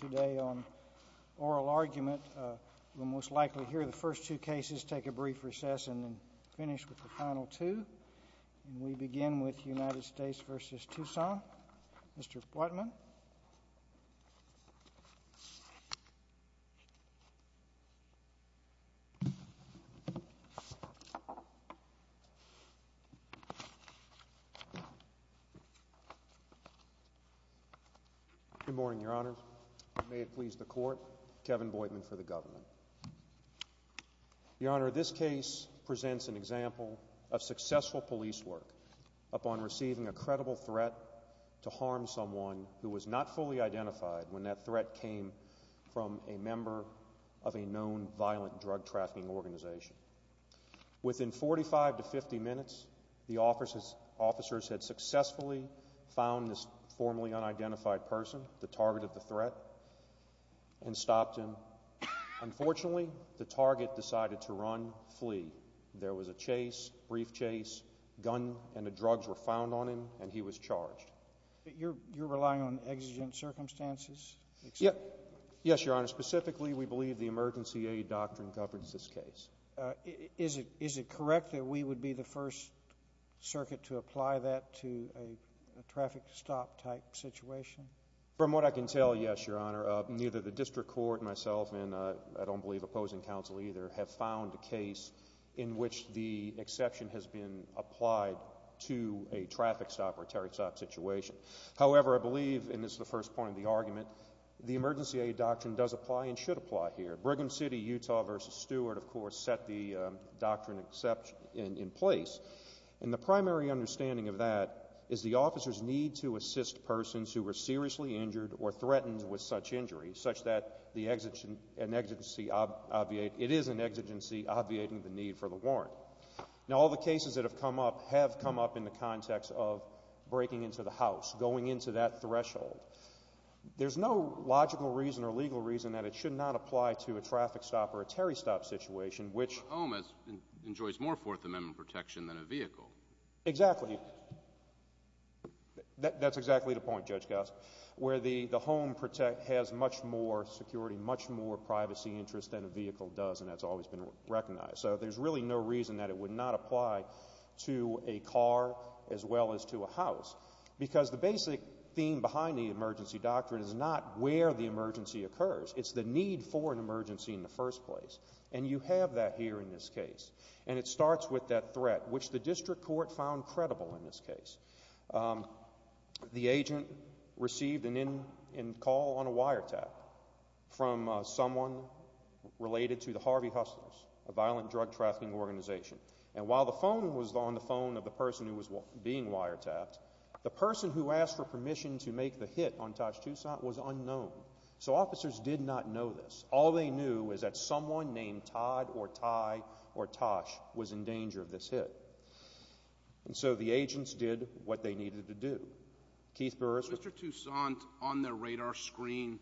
today on oral argument. And we begin with United States v. Toussaint. Mr. Boydman. Good morning, Your Honor. May it please the Court, Kevin Boydman for the Government. Your Honor, this case presents an example of successful police work upon receiving a credible threat to harm someone who was not fully identified when that threat came from a member of a known violent drug trafficking organization. Within 45 to 50 minutes, the officers had successfully found this formerly unidentified person, the target of the threat, and stopped him. Unfortunately, the target decided to run, flee. There was a chase, brief chase, gun and drugs were found on him, and he was charged. You're relying on exigent circumstances? Yes, Your Honor. Specifically, we believe the emergency aid doctrine governs this case. Is it correct that we would be the first circuit to apply that to a traffic stop type situation? From what I can tell, yes, Your Honor. Neither the district court, myself, and I don't believe opposing counsel either, have found a case in which the exception has been applied to a traffic stop or terrorist stop situation. However, I believe, and this is the first point of the argument, the emergency aid doctrine does apply and should apply here. Brigham City, Utah v. Stewart, of course, set the doctrine in place. And the primary understanding of that is the officers need to assist persons who were seriously injured or threatened with such injury, such that it is an exigency obviating the need for the warrant. Now, all the cases that have come up have come up in the context of breaking into the house, going into that threshold. There's no logical reason or legal reason that it should not apply to a traffic stop or a terrorist stop situation, which— A home enjoys more Fourth Amendment protection than a vehicle. Exactly. That's exactly the point, Judge Goss, where the home has much more security, much more privacy interest than a vehicle does, and that's always been recognized. So there's really no reason that it would not apply to a car as well as to a house because the basic theme behind the emergency doctrine is not where the emergency occurs. It's the need for an emergency in the first place. And you have that here in this case. And it starts with that threat, which the district court found credible in this case. The agent received a call on a wiretap from someone related to the Harvey Hustlers, a violent drug trafficking organization. And while the phone was on the phone of the person who was being wiretapped, the person who asked for permission to make the hit on Tosh Tucson was unknown. So officers did not know this. All they knew was that someone named Todd or Ty or Tosh was in danger of this hit. And so the agents did what they needed to do. Keith Burris was— Was Mr. Tucson on their radar screen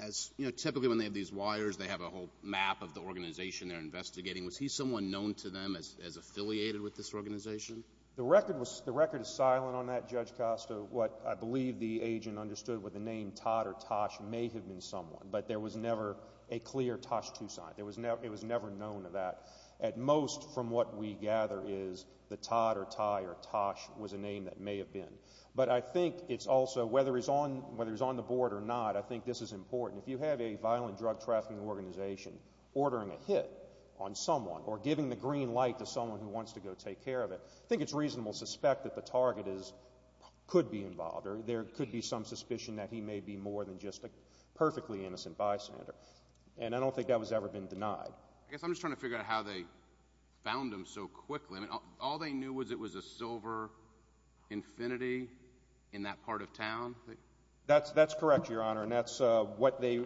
as—you know, typically when they have these wires, they have a whole map of the organization they're investigating. Was he someone known to them as affiliated with this organization? The record is silent on that, Judge Costa. What I believe the agent understood with the name Todd or Tosh may have been someone, but there was never a clear Tosh Tucson. It was never known of that. At most, from what we gather, is that Todd or Ty or Tosh was a name that may have been. But I think it's also, whether he's on the board or not, I think this is important. If you have a violent drug trafficking organization ordering a hit on someone or giving the green light to someone who wants to go take care of it, I think it's reasonable to suspect that the target could be involved or there could be some suspicion that he may be more than just a perfectly innocent bystander. And I don't think that was ever been denied. I guess I'm just trying to figure out how they found him so quickly. All they knew was it was a silver Infiniti in that part of town? That's correct, Your Honor, and that's what they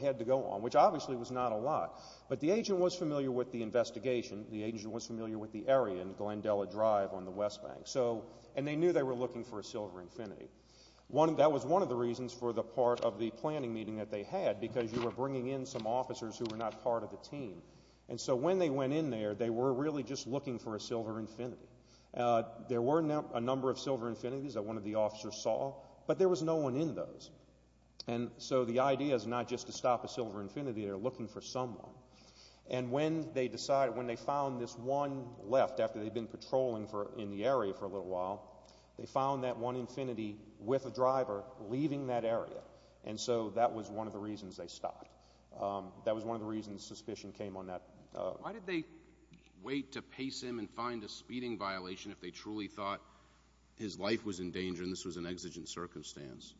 had to go on, which obviously was not a lot. But the agent was familiar with the investigation. The agent was familiar with the area in Glendella Drive on the West Bank. And they knew they were looking for a silver Infiniti. That was one of the reasons for the part of the planning meeting that they had because you were bringing in some officers who were not part of the team. And so when they went in there, they were really just looking for a silver Infiniti. There were a number of silver Infinitis that one of the officers saw, but there was no one in those. And so the idea is not just to stop a silver Infiniti, they're looking for someone. And when they decided, when they found this one left after they'd been patrolling in the area for a little while, they found that one Infiniti with a driver leaving that area. And so that was one of the reasons they stopped. That was one of the reasons suspicion came on that. Why did they wait to pace him and find a speeding violation if they truly thought his life was in danger and this was an exigent circumstance?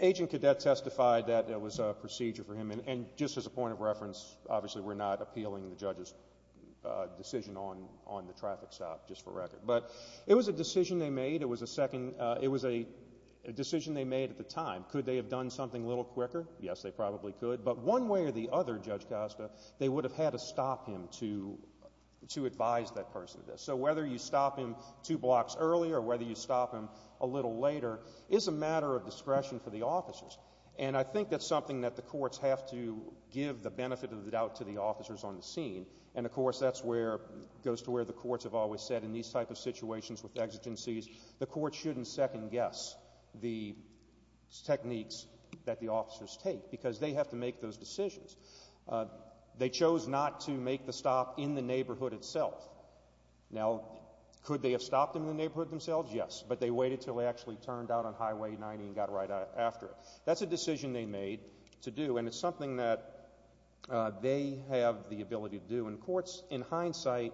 Agent Cadet testified that it was a procedure for him. And just as a point of reference, obviously we're not appealing the judge's decision on the traffic stop, just for record. But it was a decision they made. It was a decision they made at the time. Could they have done something a little quicker? Yes, they probably could. But one way or the other, Judge Costa, they would have had to stop him to advise that person. So whether you stop him two blocks earlier or whether you stop him a little later is a matter of discretion for the officers. And I think that's something that the courts have to give the benefit of the doubt to the officers on the scene. And, of course, that goes to where the courts have always said in these types of situations with exigencies, the court shouldn't second-guess the techniques that the officers take because they have to make those decisions. They chose not to make the stop in the neighborhood itself. Now, could they have stopped in the neighborhood themselves? Yes, but they waited until they actually turned out on Highway 90 and got right after it. That's a decision they made to do, and it's something that they have the ability to do. And courts, in hindsight,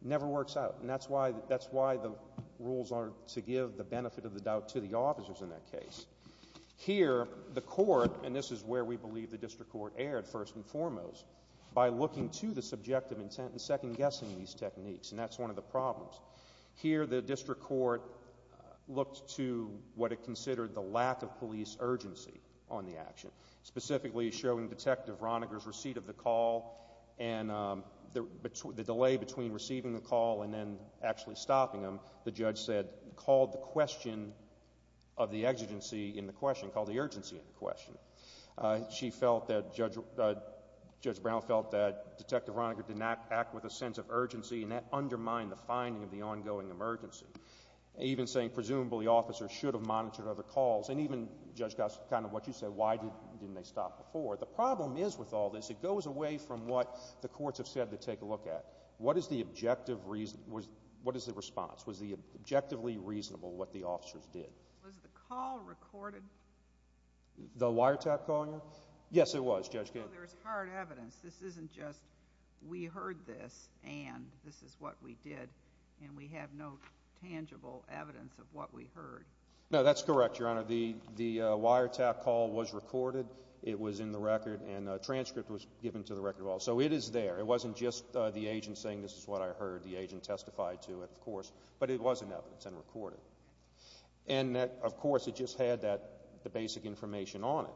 never works out. And that's why the rules are to give the benefit of the doubt to the officers in that case. Here, the court, and this is where we believe the district court erred first and foremost, by looking to the subjective intent and second-guessing these techniques, and that's one of the problems. Here, the district court looked to what it considered the lack of police urgency on the action, specifically showing Detective Roniger's receipt of the call and the delay between receiving the call and then actually stopping him, the judge said, called the question of the exigency in the question, called the urgency in the question. She felt that Judge Brown felt that Detective Roniger did not act with a sense of urgency, and that undermined the finding of the ongoing emergency. Even saying, presumably, officers should have monitored other calls, and even, Judge Goss, kind of what you said, why didn't they stop before? The problem is with all this, it goes away from what the courts have said to take a look at. What is the objective reason, what is the response? Was it objectively reasonable what the officers did? Was the call recorded? The wiretap calling? Yes, it was, Judge Goss. There is hard evidence. This isn't just we heard this and this is what we did, and we have no tangible evidence of what we heard. No, that's correct, Your Honor. The wiretap call was recorded. It was in the record, and a transcript was given to the record of all. So it is there. It wasn't just the agent saying this is what I heard. The agent testified to it, of course, but it was in evidence and recorded. And, of course, it just had the basic information on it.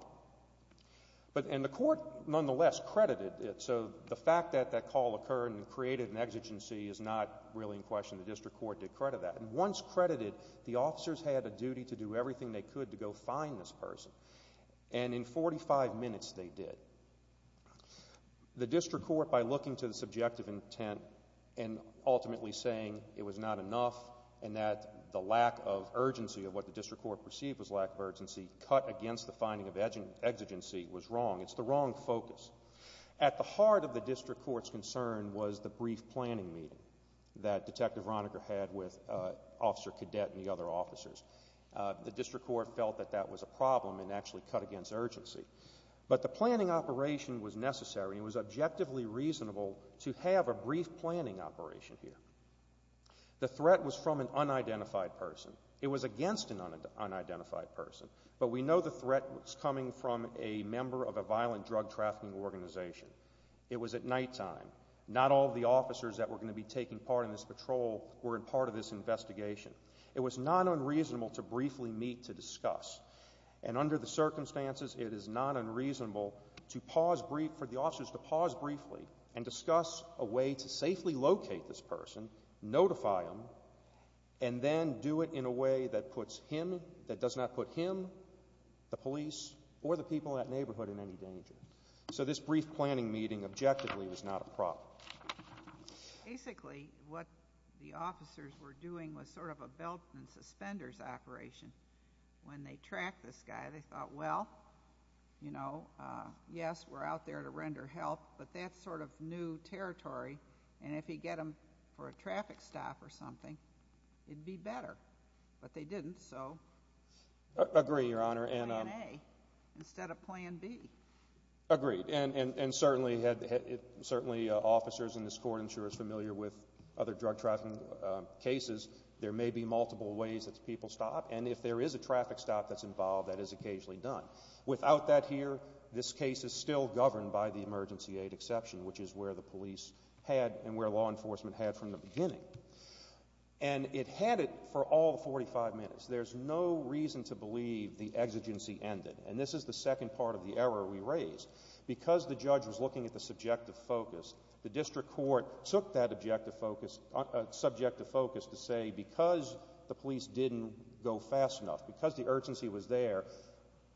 And the court, nonetheless, credited it. So the fact that that call occurred and created an exigency is not really in question. The district court did credit that. And once credited, the officers had a duty to do everything they could to go find this person, and in 45 minutes they did. The district court, by looking to the subjective intent and ultimately saying it was not enough and that the lack of urgency of what the district court perceived was lack of urgency, cut against the finding of exigency, was wrong. It's the wrong focus. At the heart of the district court's concern was the brief planning meeting that Detective Roniger had with Officer Cadet and the other officers. The district court felt that that was a problem and actually cut against urgency. But the planning operation was necessary and it was objectively reasonable to have a brief planning operation here. The threat was from an unidentified person. It was against an unidentified person. But we know the threat was coming from a member of a violent drug trafficking organization. It was at nighttime. Not all of the officers that were going to be taking part in this patrol were part of this investigation. It was not unreasonable to briefly meet to discuss. And under the circumstances, it is not unreasonable for the officers to pause briefly and discuss a way to safely locate this person, notify him, and then do it in a way that does not put him, the police, or the people in that neighborhood in any danger. So this brief planning meeting objectively was not a problem. Basically, what the officers were doing was sort of a belt and suspenders operation. When they tracked this guy, they thought, well, you know, yes, we're out there to render help, but that's sort of new territory, and if you get them for a traffic stop or something, it'd be better. But they didn't, so Plan A instead of Plan B. Agreed. And certainly, officers in this court, I'm sure, are familiar with other drug trafficking cases. There may be multiple ways that people stop, and if there is a traffic stop that's involved, that is occasionally done. Without that here, this case is still governed by the emergency aid exception, which is where the police had and where law enforcement had from the beginning. And it had it for all 45 minutes. There's no reason to believe the exigency ended, and this is the second part of the error we raised. Because the judge was looking at the subjective focus, the district court took that subjective focus to say because the police didn't go fast enough, because the urgency was there,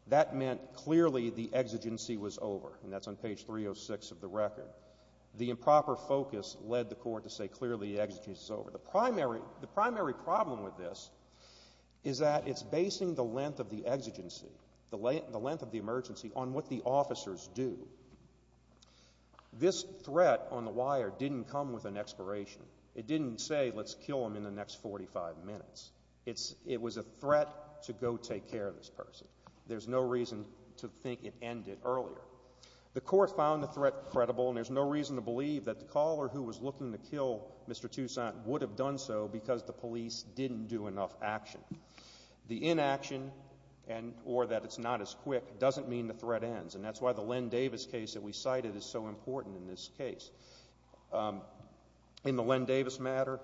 that meant clearly the exigency was over. And that's on page 306 of the record. The improper focus led the court to say clearly the exigency is over. The primary problem with this is that it's basing the length of the exigency, the length of the emergency, on what the officers do. This threat on the wire didn't come with an expiration. It didn't say let's kill them in the next 45 minutes. It was a threat to go take care of this person. There's no reason to think it ended earlier. The court found the threat credible, and there's no reason to believe that the caller who was looking to kill Mr. Toussaint would have done so because the police didn't do enough action. The inaction or that it's not as quick doesn't mean the threat ends, and that's why the Len Davis case that we cited is so important in this case. In the Len Davis matter,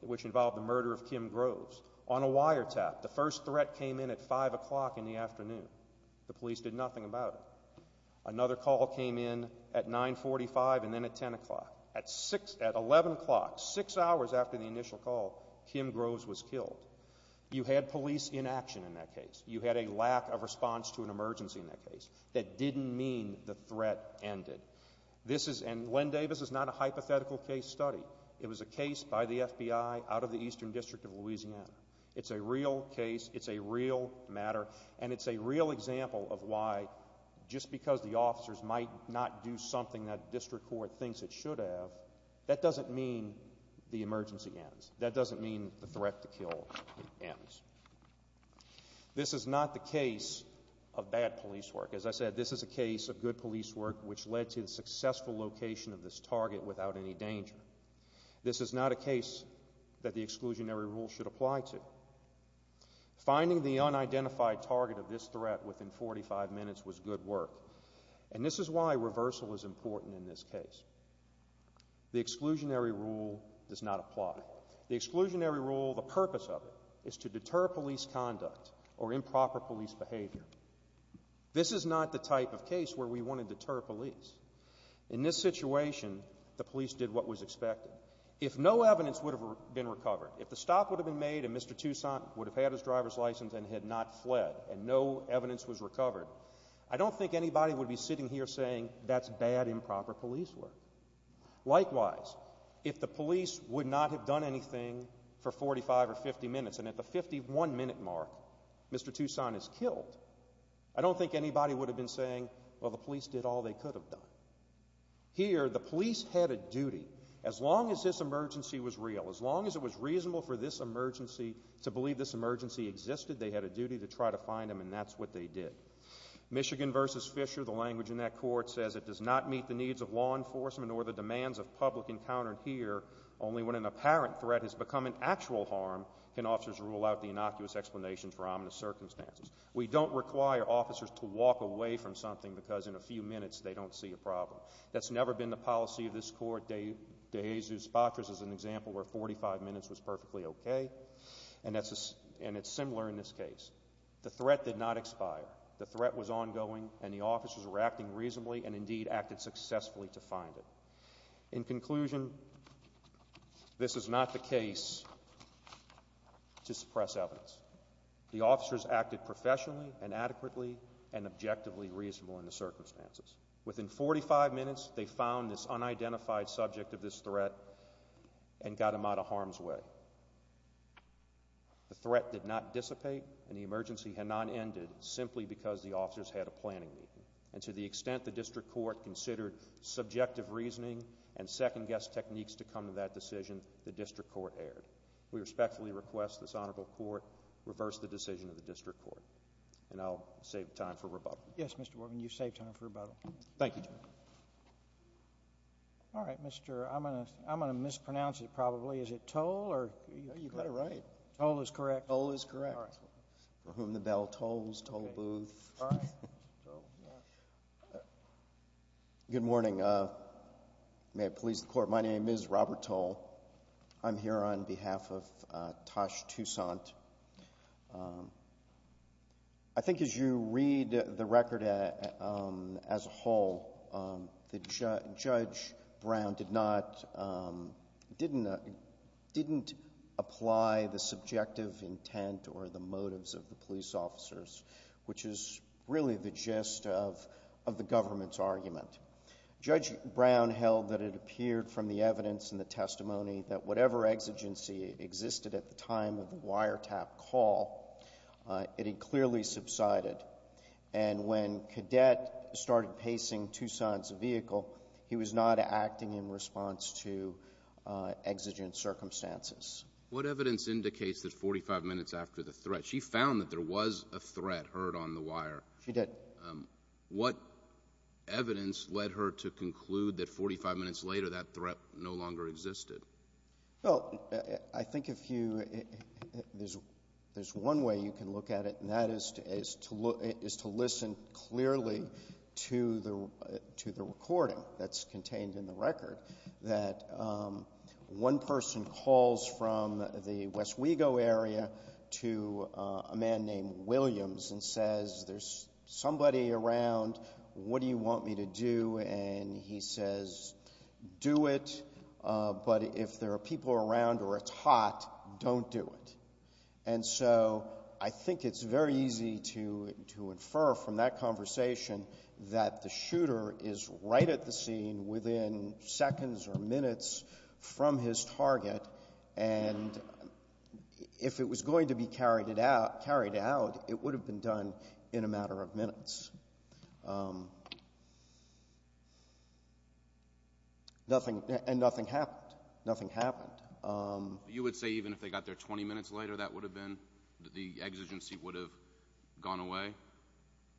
which involved the murder of Kim Groves, on a wiretap, the first threat came in at 5 o'clock in the afternoon. The police did nothing about it. Another call came in at 9.45 and then at 10 o'clock. At 11 o'clock, six hours after the initial call, Kim Groves was killed. You had police inaction in that case. You had a lack of response to an emergency in that case. That didn't mean the threat ended. And Len Davis is not a hypothetical case study. It was a case by the FBI out of the Eastern District of Louisiana. It's a real case. It's a real matter. And it's a real example of why, just because the officers might not do something that the district court thinks it should have, that doesn't mean the emergency ends. That doesn't mean the threat to kill ends. This is not the case of bad police work. As I said, this is a case of good police work, which led to the successful location of this target without any danger. This is not a case that the exclusionary rule should apply to. Finding the unidentified target of this threat within 45 minutes was good work. And this is why reversal is important in this case. The exclusionary rule does not apply. The exclusionary rule, the purpose of it, is to deter police conduct or improper police behavior. This is not the type of case where we want to deter police. In this situation, the police did what was expected. If no evidence would have been recovered, if the stop would have been made and Mr. Toussaint would have had his driver's license and had not fled and no evidence was recovered, I don't think anybody would be sitting here saying that's bad improper police work. Likewise, if the police would not have done anything for 45 or 50 minutes and at the 51-minute mark Mr. Toussaint is killed, I don't think anybody would have been saying, well, the police did all they could have done. Here, the police had a duty, as long as this emergency was real, as long as it was reasonable for this emergency to believe this emergency existed, they had a duty to try to find him, and that's what they did. Michigan v. Fisher, the language in that court says, it does not meet the needs of law enforcement or the demands of public encountered here. Only when an apparent threat has become an actual harm can officers rule out the innocuous explanations for ominous circumstances. We don't require officers to walk away from something because in a few minutes they don't see a problem. That's never been the policy of this court. De Jesus Patras is an example where 45 minutes was perfectly okay, and it's similar in this case. The threat did not expire. The threat was ongoing, and the officers were acting reasonably and indeed acted successfully to find him. In conclusion, this is not the case to suppress evidence. The officers acted professionally and adequately and objectively reasonable in the circumstances. Within 45 minutes, they found this unidentified subject of this threat and got him out of harm's way. The threat did not dissipate, and the emergency had not ended simply because the officers had a planning meeting. And to the extent the district court considered subjective reasoning and second-guess techniques to come to that decision, the district court erred. We respectfully request this honorable court reverse the decision of the district court. And I'll save time for rebuttal. Yes, Mr. Borman, you've saved time for rebuttal. Thank you, Judge. All right, Mr. I'm going to mispronounce it probably. Is it toll? You got it right. Toll is correct. Toll is correct. For whom the bell tolls, toll booth. Good morning. May it please the court, my name is Robert Toll. I'm here on behalf of Tosh Toussaint. I think as you read the record as a whole, Judge Brown didn't apply the subjective intent or the motives of the police officers, which is really the gist of the government's argument. Judge Brown held that it appeared from the evidence and the testimony that whatever exigency existed at the time of the wiretap call, it had clearly subsided. And when Cadet started pacing Toussaint's vehicle, he was not acting in response to exigent circumstances. What evidence indicates that 45 minutes after the threat, she found that there was a threat heard on the wire? She did. What evidence led her to conclude that 45 minutes later that threat no longer existed? Well, I think there's one way you can look at it, and that is to listen clearly to the recording that's contained in the record, that one person calls from the West Wego area to a man named Williams and says there's somebody around, what do you want me to do? And he says, do it, but if there are people around or it's hot, don't do it. And so I think it's very easy to infer from that conversation that the shooter is right at the scene within seconds or minutes from his target, and if it was going to be carried out, it would have been done in a matter of minutes. And nothing happened. Nothing happened. You would say even if they got there 20 minutes later, that would have been? The exigency would have gone away?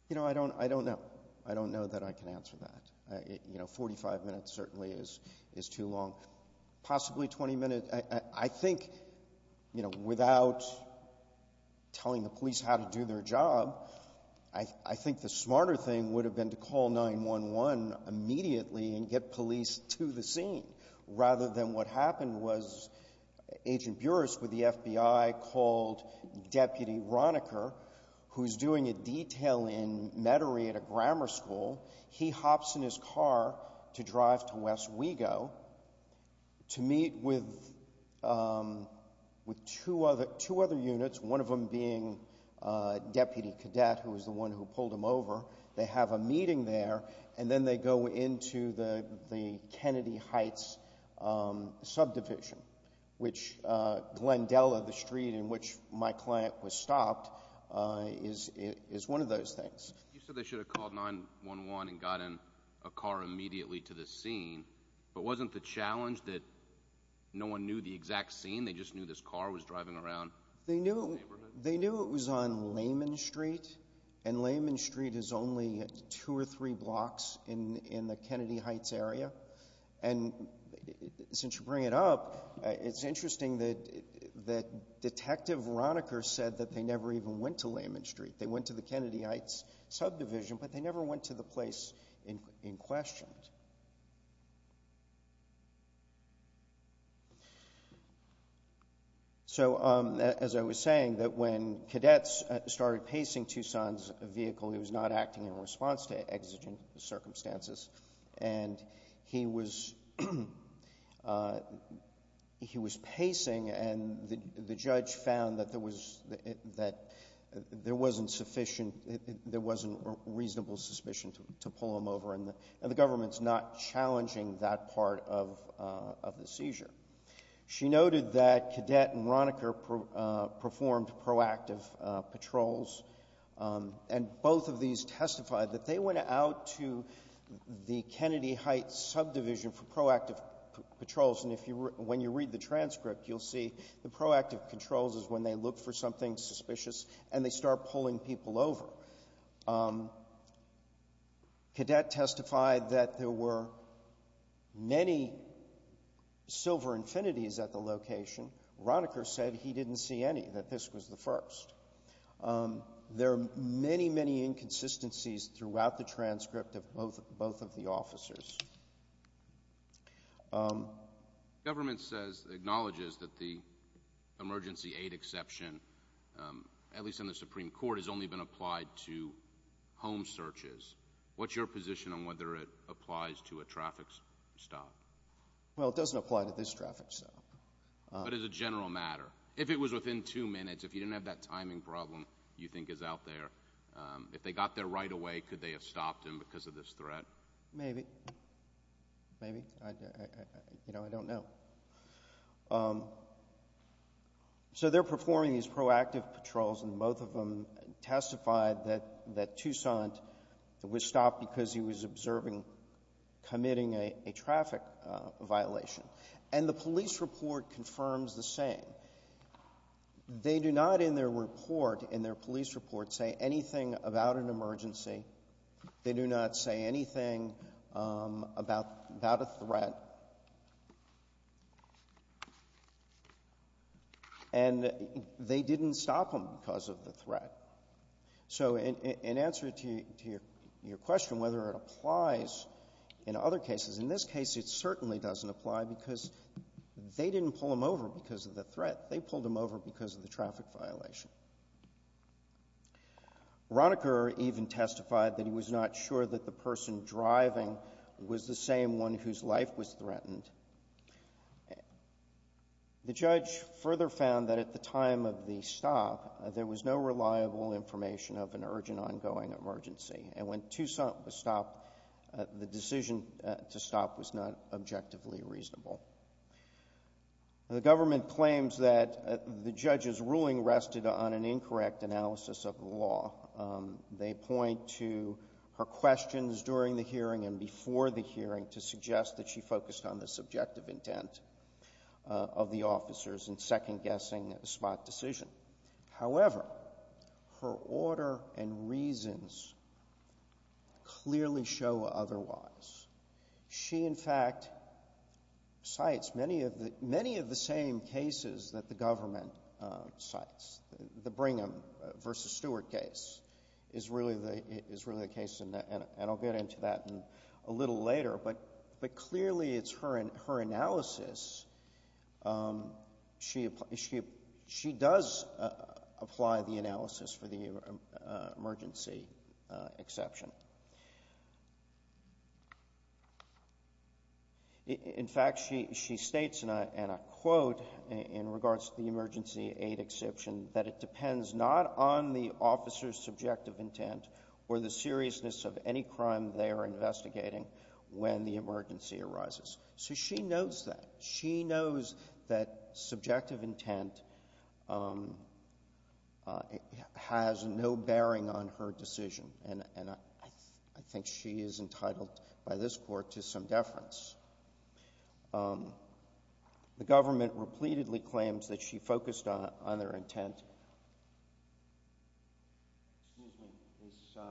You know, I don't know. I don't know that I can answer that. You know, 45 minutes certainly is too long. Possibly 20 minutes. I think, you know, without telling the police how to do their job, I think the smarter thing would have been to call 911 immediately and get police to the scene rather than what happened was Agent Buras with the FBI called Deputy Ronecker, who's doing a detail in Metairie at a grammar school. He hops in his car to drive to West Wego to meet with two other units, one of them being Deputy Cadet, who was the one who pulled him over. They have a meeting there, and then they go into the Kennedy Heights subdivision, which Glendella, the street in which my client was stopped, is one of those things. You said they should have called 911 and gotten a car immediately to the scene, but wasn't the challenge that no one knew the exact scene, they just knew this car was driving around the neighborhood? They knew it was on Layman Street, and Layman Street is only two or three blocks in the Kennedy Heights area. And since you bring it up, it's interesting that Detective Ronecker said that they never even went to Layman Street. They went to the Kennedy Heights subdivision, but they never went to the place in question. So, as I was saying, that when cadets started pacing Tucson's vehicle, he was not acting in response to exigent circumstances. And he was pacing, and the judge found that there wasn't sufficient, there wasn't reasonable suspicion to pull him over, and the government's not challenging that part of the seizure. She noted that Cadet and Ronecker performed proactive patrols, and both of these testified that they went out to the Kennedy Heights subdivision for proactive patrols, and when you read the transcript, you'll see the proactive controls is when they look for something suspicious and they start pulling people over. Cadet testified that there were many silver infinities at the location. Ronecker said he didn't see any, that this was the first. There are many, many inconsistencies throughout the transcript of both of the officers. The government acknowledges that the emergency aid exception, at least in the Supreme Court, has only been applied to home searches. What's your position on whether it applies to a traffic stop? Well, it doesn't apply to this traffic stop. But as a general matter, if it was within two minutes, if you didn't have that timing problem you think is out there, if they got there right away, could they have stopped him because of this threat? Maybe. Maybe. You know, I don't know. So they're performing these proactive patrols, and both of them testified that Toussaint was stopped because he was observing committing a traffic violation. And the police report confirms the same. They do not in their report, in their police report, say anything about an emergency. They do not say anything about a threat. And they didn't stop him because of the threat. So in answer to your question whether it applies in other cases, in this case it certainly doesn't apply because they didn't pull him over because of the threat. They pulled him over because of the traffic violation. Ronecker even testified that he was not sure that the person driving was the same one whose life was threatened. The judge further found that at the time of the stop, there was no reliable information of an urgent, ongoing emergency. And when Toussaint was stopped, the decision to stop was not objectively reasonable. The government claims that the judge's ruling rested on an incorrect analysis of the law. They point to her questions during the hearing and before the hearing to suggest that she focused on the subjective intent of the officers in second-guessing a spot decision. However, her order and reasons clearly show otherwise. She, in fact, cites many of the same cases that the government cites. The Brigham v. Stewart case is really the case, and I'll get into that a little later. But clearly it's her analysis. She does apply the analysis for the emergency exception. In fact, she states in a quote in regards to the emergency aid exception that it depends not on the officer's subjective intent or the seriousness of any crime they are investigating when the emergency arises. So she knows that. She knows that subjective intent has no bearing on her decision. And I think she is entitled by this Court to some deference. The government repeatedly claims that she focused on their intent. Excuse me.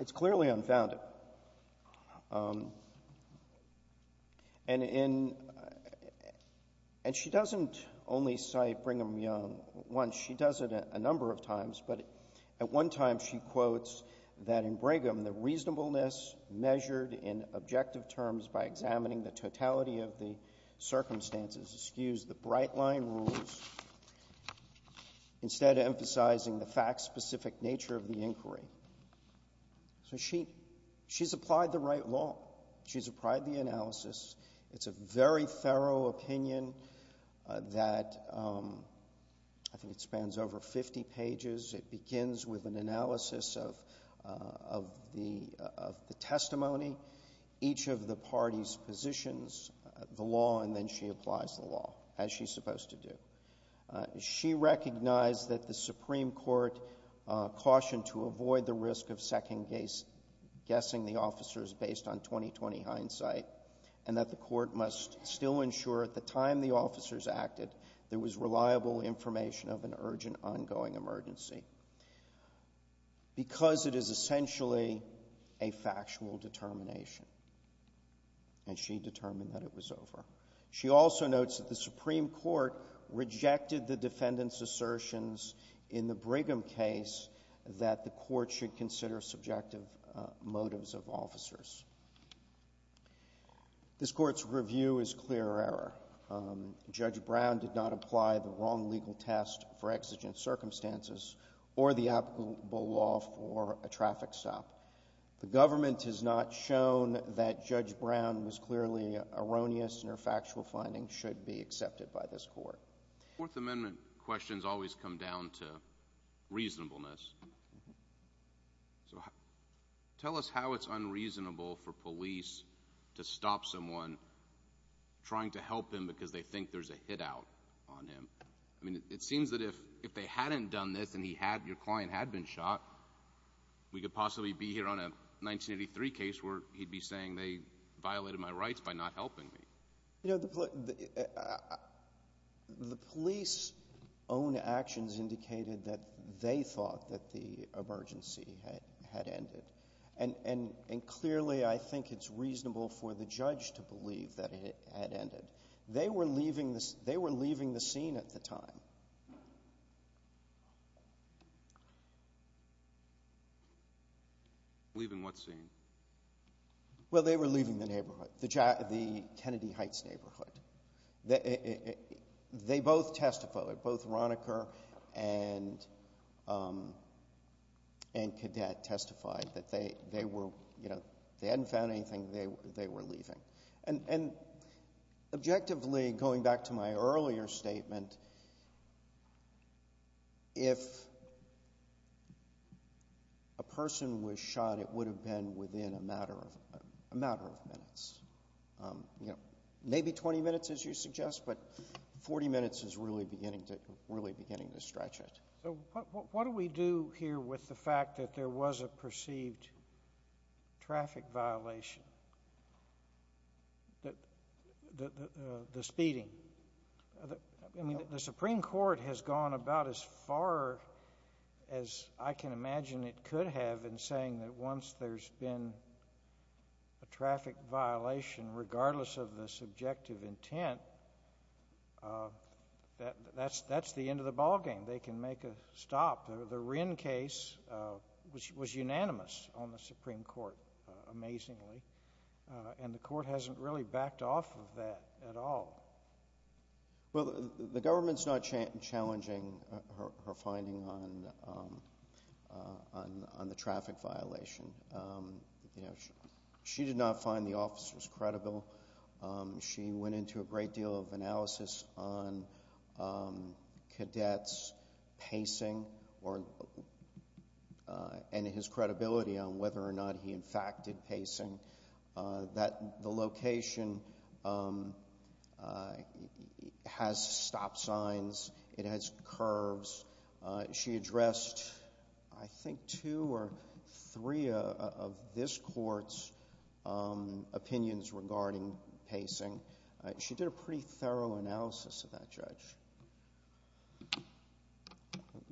It's clearly unfounded. And she doesn't only cite Brigham Young once. She does it a number of times. But at one time she quotes that in Brigham, the reasonableness measured in objective terms by examining the totality of the circumstances, excuse the bright-line rules, instead emphasizing the fact-specific nature of the inquiry. So she's applied the right law. She's applied the analysis. It's a very thorough opinion that I think it spans over 50 pages. It begins with an analysis of the testimony. Each of the parties positions the law, and then she applies the law, as she's supposed to do. She recognized that the Supreme Court cautioned to avoid the risk of second-guessing the officers based on 20-20 hindsight, and that the Court must still ensure at the time the officers acted there was reliable information of an urgent ongoing emergency because it is essentially a factual determination. And she determined that it was over. She also notes that the Supreme Court rejected the defendant's assertions in the Brigham case that the Court should consider subjective motives of officers. This Court's review is clear error. Judge Brown did not apply the wrong legal test for exigent circumstances or the applicable law for a traffic stop. The government has not shown that Judge Brown was clearly erroneous and her factual findings should be accepted by this Court. Fourth Amendment questions always come down to reasonableness. Tell us how it's unreasonable for police to stop someone trying to help him because they think there's a hit-out on him. I mean, it seems that if they hadn't done this and your client had been shot, we could possibly be here on a 1983 case where he'd be saying they violated my rights by not helping me. You know, the police's own actions indicated that they thought that the emergency had ended, and clearly I think it's reasonable for the judge to believe that it had ended. They were leaving the scene at the time. Leaving what scene? Well, they were leaving the neighborhood, the Kennedy Heights neighborhood. They both testified. Both Ronecker and Cadet testified that they hadn't found anything. They were leaving. And objectively, going back to my earlier statement, if a person was shot, it would have been within a matter of minutes. You know, maybe 20 minutes, as you suggest, but 40 minutes is really beginning to stretch it. So what do we do here with the fact that there was a perceived traffic violation, the speeding? I mean, the Supreme Court has gone about as far as I can imagine it could have in saying that once there's been a traffic violation, regardless of the subjective intent, that's the end of the ballgame. They can make a stop. The Wren case was unanimous on the Supreme Court, amazingly, and the court hasn't really backed off of that at all. Well, the government's not challenging her finding on the traffic violation. She did not find the officers credible. She went into a great deal of analysis on Cadet's pacing and his credibility on whether or not he, in fact, did pacing, that the location has stop signs, it has curves. She addressed, I think, two or three of this court's opinions regarding pacing. She did a pretty thorough analysis of that, Judge.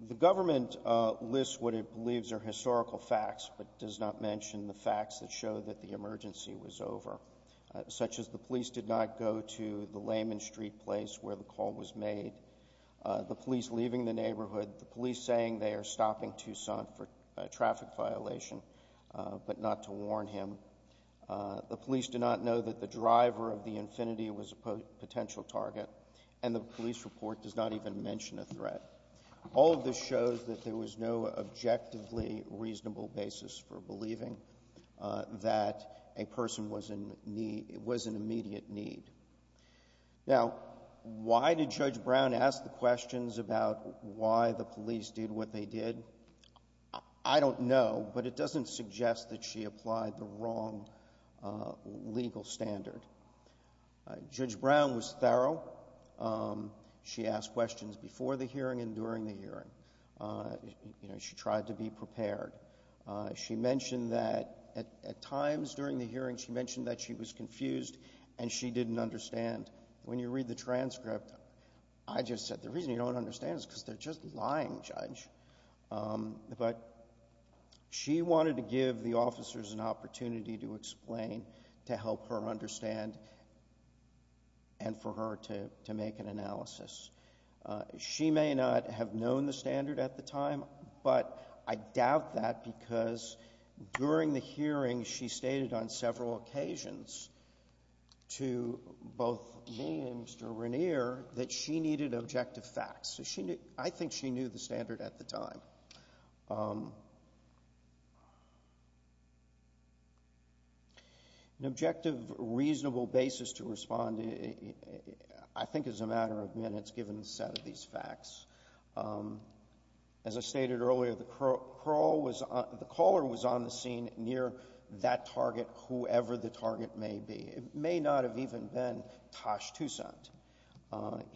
The government lists what it believes are historical facts but does not mention the facts that show that the emergency was over, such as the police did not go to the Lehman Street place where the call was made, the police leaving the neighborhood, the police saying they are stopping Tucson for a traffic violation but not to warn him, the police do not know that the driver of the Infiniti was a potential target, and the police report does not even mention a threat. All of this shows that there was no objectively reasonable basis for believing that a person was in immediate need. Now, why did Judge Brown ask the questions about why the police did what they did? I don't know, but it doesn't suggest that she applied the wrong legal standard. Judge Brown was thorough. She asked questions before the hearing and during the hearing. She tried to be prepared. She mentioned that at times during the hearing, she mentioned that she was confused and she didn't understand. When you read the transcript, I just said, But she wanted to give the officers an opportunity to explain, to help her understand, and for her to make an analysis. She may not have known the standard at the time, but I doubt that because during the hearing, she stated on several occasions to both me and Mr. Renier that she needed objective facts. I think she knew the standard at the time. An objective, reasonable basis to respond, I think, is a matter of minutes, given the set of these facts. As I stated earlier, the caller was on the scene near that target, whoever the target may be. It may not have even been Tosh Toussaint.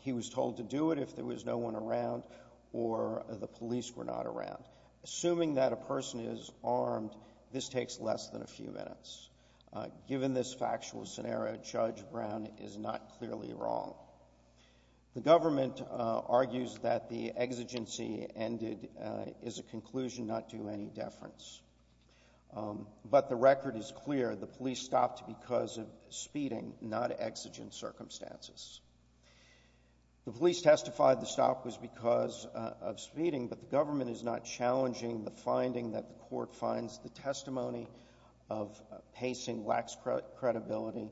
He was told to do it if there was no one around or the police were not around. Assuming that a person is armed, this takes less than a few minutes. Given this factual scenario, Judge Brown is not clearly wrong. The government argues that the exigency ended is a conclusion not to any deference. But the record is clear. The police stopped because of speeding, not exigent circumstances. The police testified the stop was because of speeding, but the government is not challenging the finding that the court finds the testimony of pacing lacks credibility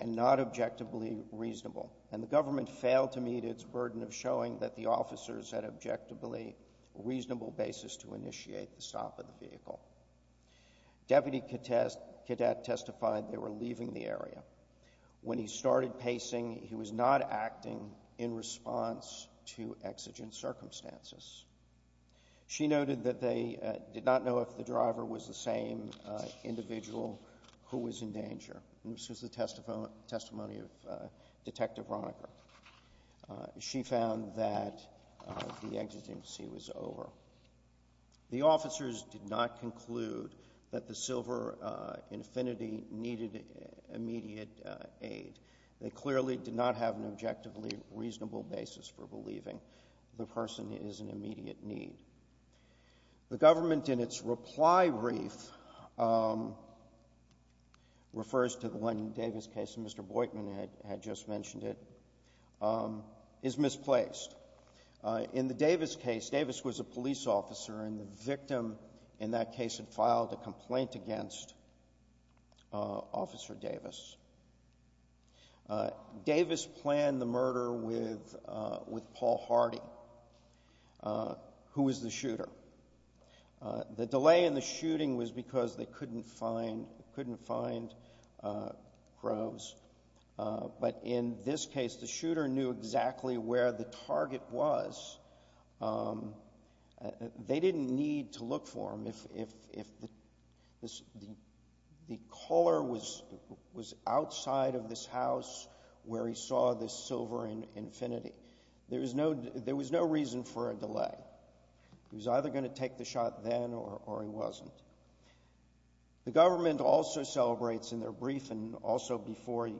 and not objectively reasonable. And the government failed to meet its burden of showing that the officers had an objectively reasonable basis to initiate the stop of the vehicle. Deputy cadet testified they were leaving the area. When he started pacing, he was not acting in response to exigent circumstances. She noted that they did not know if the driver was the same individual who was in danger. This was the testimony of Detective Ronnicker. She found that the exigency was over. The officers did not conclude that the Silver Infinity needed immediate aid. They clearly did not have an objectively reasonable basis for believing the person is in immediate need. The government, in its reply brief, refers to the one Davis case, and Mr. Boykman had just mentioned it, is misplaced. In the Davis case, Davis was a police officer, and the victim in that case had filed a complaint against Officer Davis. Davis planned the murder with Paul Hardy, who was the shooter. The delay in the shooting was because they couldn't find Groves. But in this case, the shooter knew exactly where the target was. They didn't need to look for him if the caller was outside of this house where he saw the Silver Infinity. There was no reason for a delay. He was either going to take the shot then, or he wasn't. The government also celebrates in their briefing, also before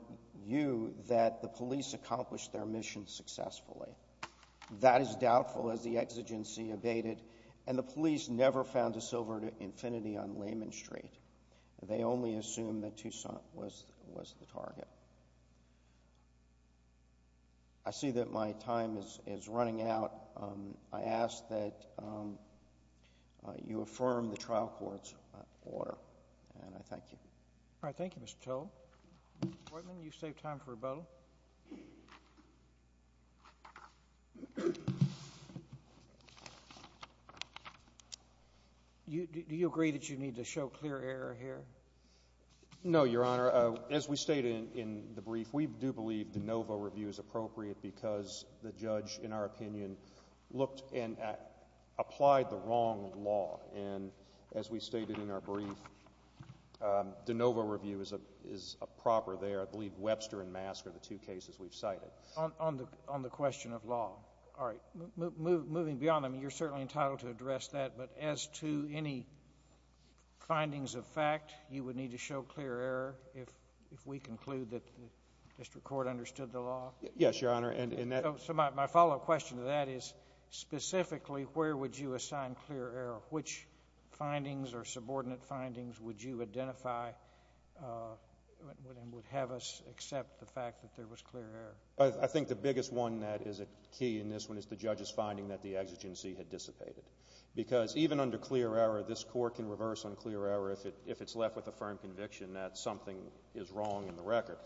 you, that the police accomplished their mission successfully. That is doubtful, as the exigency abated, and the police never found the Silver Infinity on Lehman Street. They only assumed that Tucson was the target. I see that my time is running out. I ask that you affirm the trial court's order, and I thank you. All right. Thank you, Mr. Towle. Mr. Boykman, you've saved time for rebuttal. Do you agree that you need to show clear error here? No, Your Honor. As we stated in the brief, we do believe de novo review is appropriate because the judge, in our opinion, looked and applied the wrong law. As we stated in our brief, de novo review is proper there. I believe Webster and Mask are the two cases we've cited. On the question of law. All right. Moving beyond them, you're certainly entitled to address that, but as to any findings of fact, you would need to show clear error if we conclude that the district court understood the law? Yes, Your Honor. So my follow-up question to that is, specifically, where would you assign clear error? Which findings or subordinate findings would you identify would have us accept the fact that there was clear error? I think the biggest one that is a key in this one is the judge's finding that the exigency had dissipated. Because even under clear error, this court can reverse on clear error if it's left with a firm conviction that something is wrong in the record.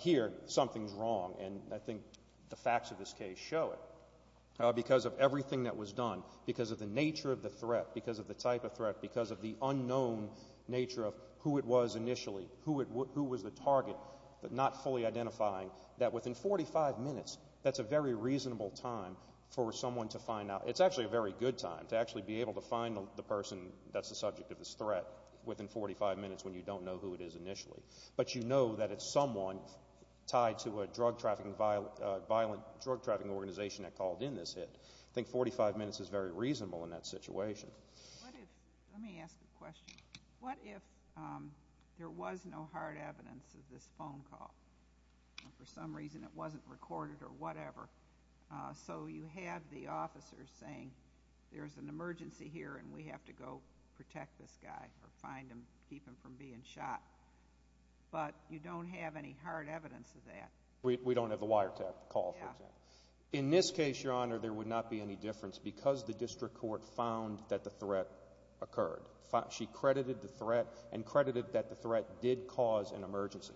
Here, something is wrong, and I think the facts of this case show it. Because of everything that was done, because of the nature of the threat, because of the type of threat, because of the unknown nature of who it was initially, who was the target, not fully identifying, that within 45 minutes, that's a very reasonable time for someone to find out. It's actually a very good time to actually be able to find the person that's the subject of this threat within 45 minutes when you don't know who it is initially. But you know that it's someone tied to a drug-trafficking, violent drug-trafficking organization that called in this hit. I think 45 minutes is very reasonable in that situation. Let me ask a question. What if there was no hard evidence of this phone call, and for some reason it wasn't recorded or whatever, so you have the officers saying there's an emergency here and we have to go protect this guy or find him, keep him from being shot, but you don't have any hard evidence of that? We don't have the wiretap call, for example. In this case, Your Honor, there would not be any difference because the district court found that the threat occurred. She credited the threat and credited that the threat did cause an emergency.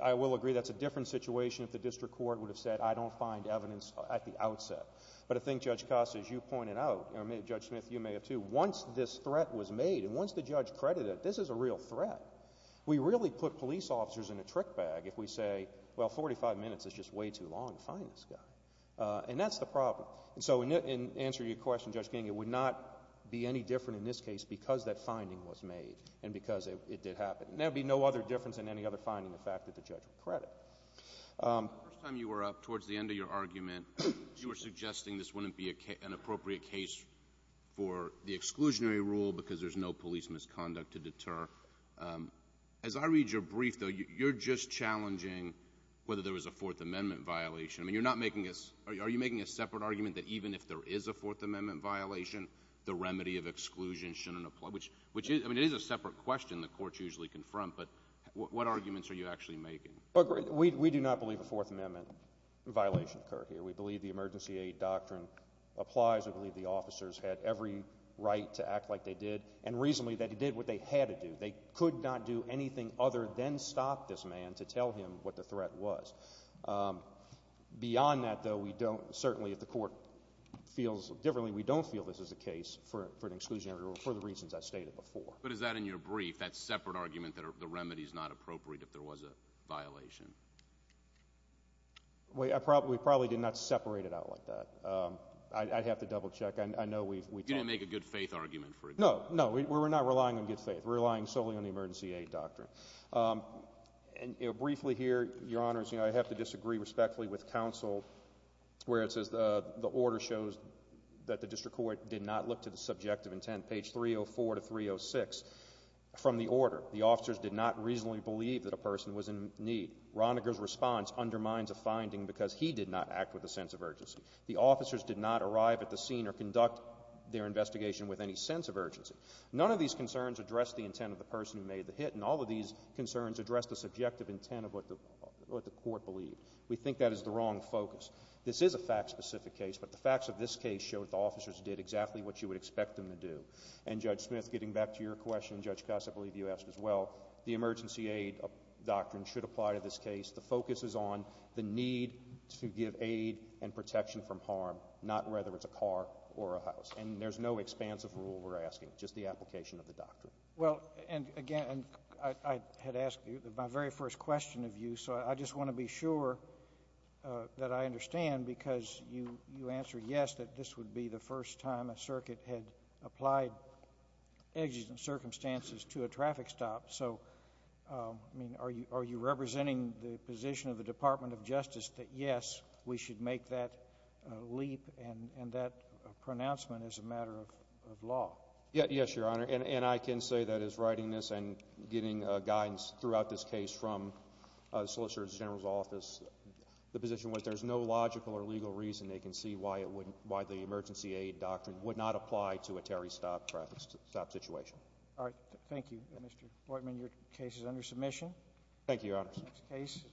I will agree that's a different situation if the district court would have said I don't find evidence at the outset. But I think, Judge Costa, as you pointed out, or Judge Smith, you may have too, once this threat was made and once the judge credited it, this is a real threat. We really put police officers in a trick bag if we say, well, 45 minutes is just way too long to find this guy. And that's the problem. So in answer to your question, Judge King, it would not be any different in this case because that finding was made and because it did happen. There would be no other difference in any other finding than the fact that the judge would credit. The first time you were up towards the end of your argument, you were suggesting this wouldn't be an appropriate case for the exclusionary rule because there's no police misconduct to deter. As I read your brief, though, you're just challenging whether there was a Fourth Amendment violation. I mean, you're not making a – are you making a separate argument that even if there is a Fourth Amendment violation, the remedy of exclusion shouldn't apply, which is – I mean, it is a separate question the courts usually confront, but what arguments are you actually making? We do not believe a Fourth Amendment violation occurred here. We believe the emergency aid doctrine applies. We believe the officers had every right to act like they did and reasonably that they did what they had to do. They could not do anything other than stop this man to tell him what the threat was. Beyond that, though, we don't – certainly if the court feels differently, we don't feel this is the case for an exclusionary rule for the reasons I stated before. But is that in your brief, that separate argument that the remedy is not appropriate if there was a violation? We probably did not separate it out like that. I'd have to double check. I know we've – You didn't make a good faith argument, for example. No, no. We're not relying on good faith. We're relying solely on the emergency aid doctrine. And briefly here, Your Honors, I have to disagree respectfully with counsel where it says the order shows that the district court did not look to the subjective intent, page 304 to 306. From the order, the officers did not reasonably believe that a person was in need. Roniger's response undermines a finding because he did not act with a sense of urgency. The officers did not arrive at the scene or conduct their investigation with any sense of urgency. None of these concerns address the intent of the person who made the hit. And all of these concerns address the subjective intent of what the court believed. We think that is the wrong focus. This is a fact-specific case, but the facts of this case show that the officers did exactly what you would expect them to do. And, Judge Smith, getting back to your question, Judge Costa, I believe you asked as well, the emergency aid doctrine should apply to this case. The focus is on the need to give aid and protection from harm, not whether it's a car or a house. And there's no expansive rule we're asking, just the application of the doctrine. Well, and again, I had asked my very first question of you, so I just want to be sure that I understand because you answered yes, that this would be the first time a circuit had applied exigent circumstances to a traffic stop. So, I mean, are you representing the position of the Department of Justice that yes, we should make that leap and that pronouncement as a matter of law? Yes, Your Honor. And I can say that as writing this and getting guidance throughout this case from the Solicitor General's office, the position was there's no logical or legal reason they can see why the emergency aid doctrine would not apply to a Terry Stop traffic stop situation. All right. Thank you, Mr. Hoytman. Your case is under submission. Thank you, Your Honors.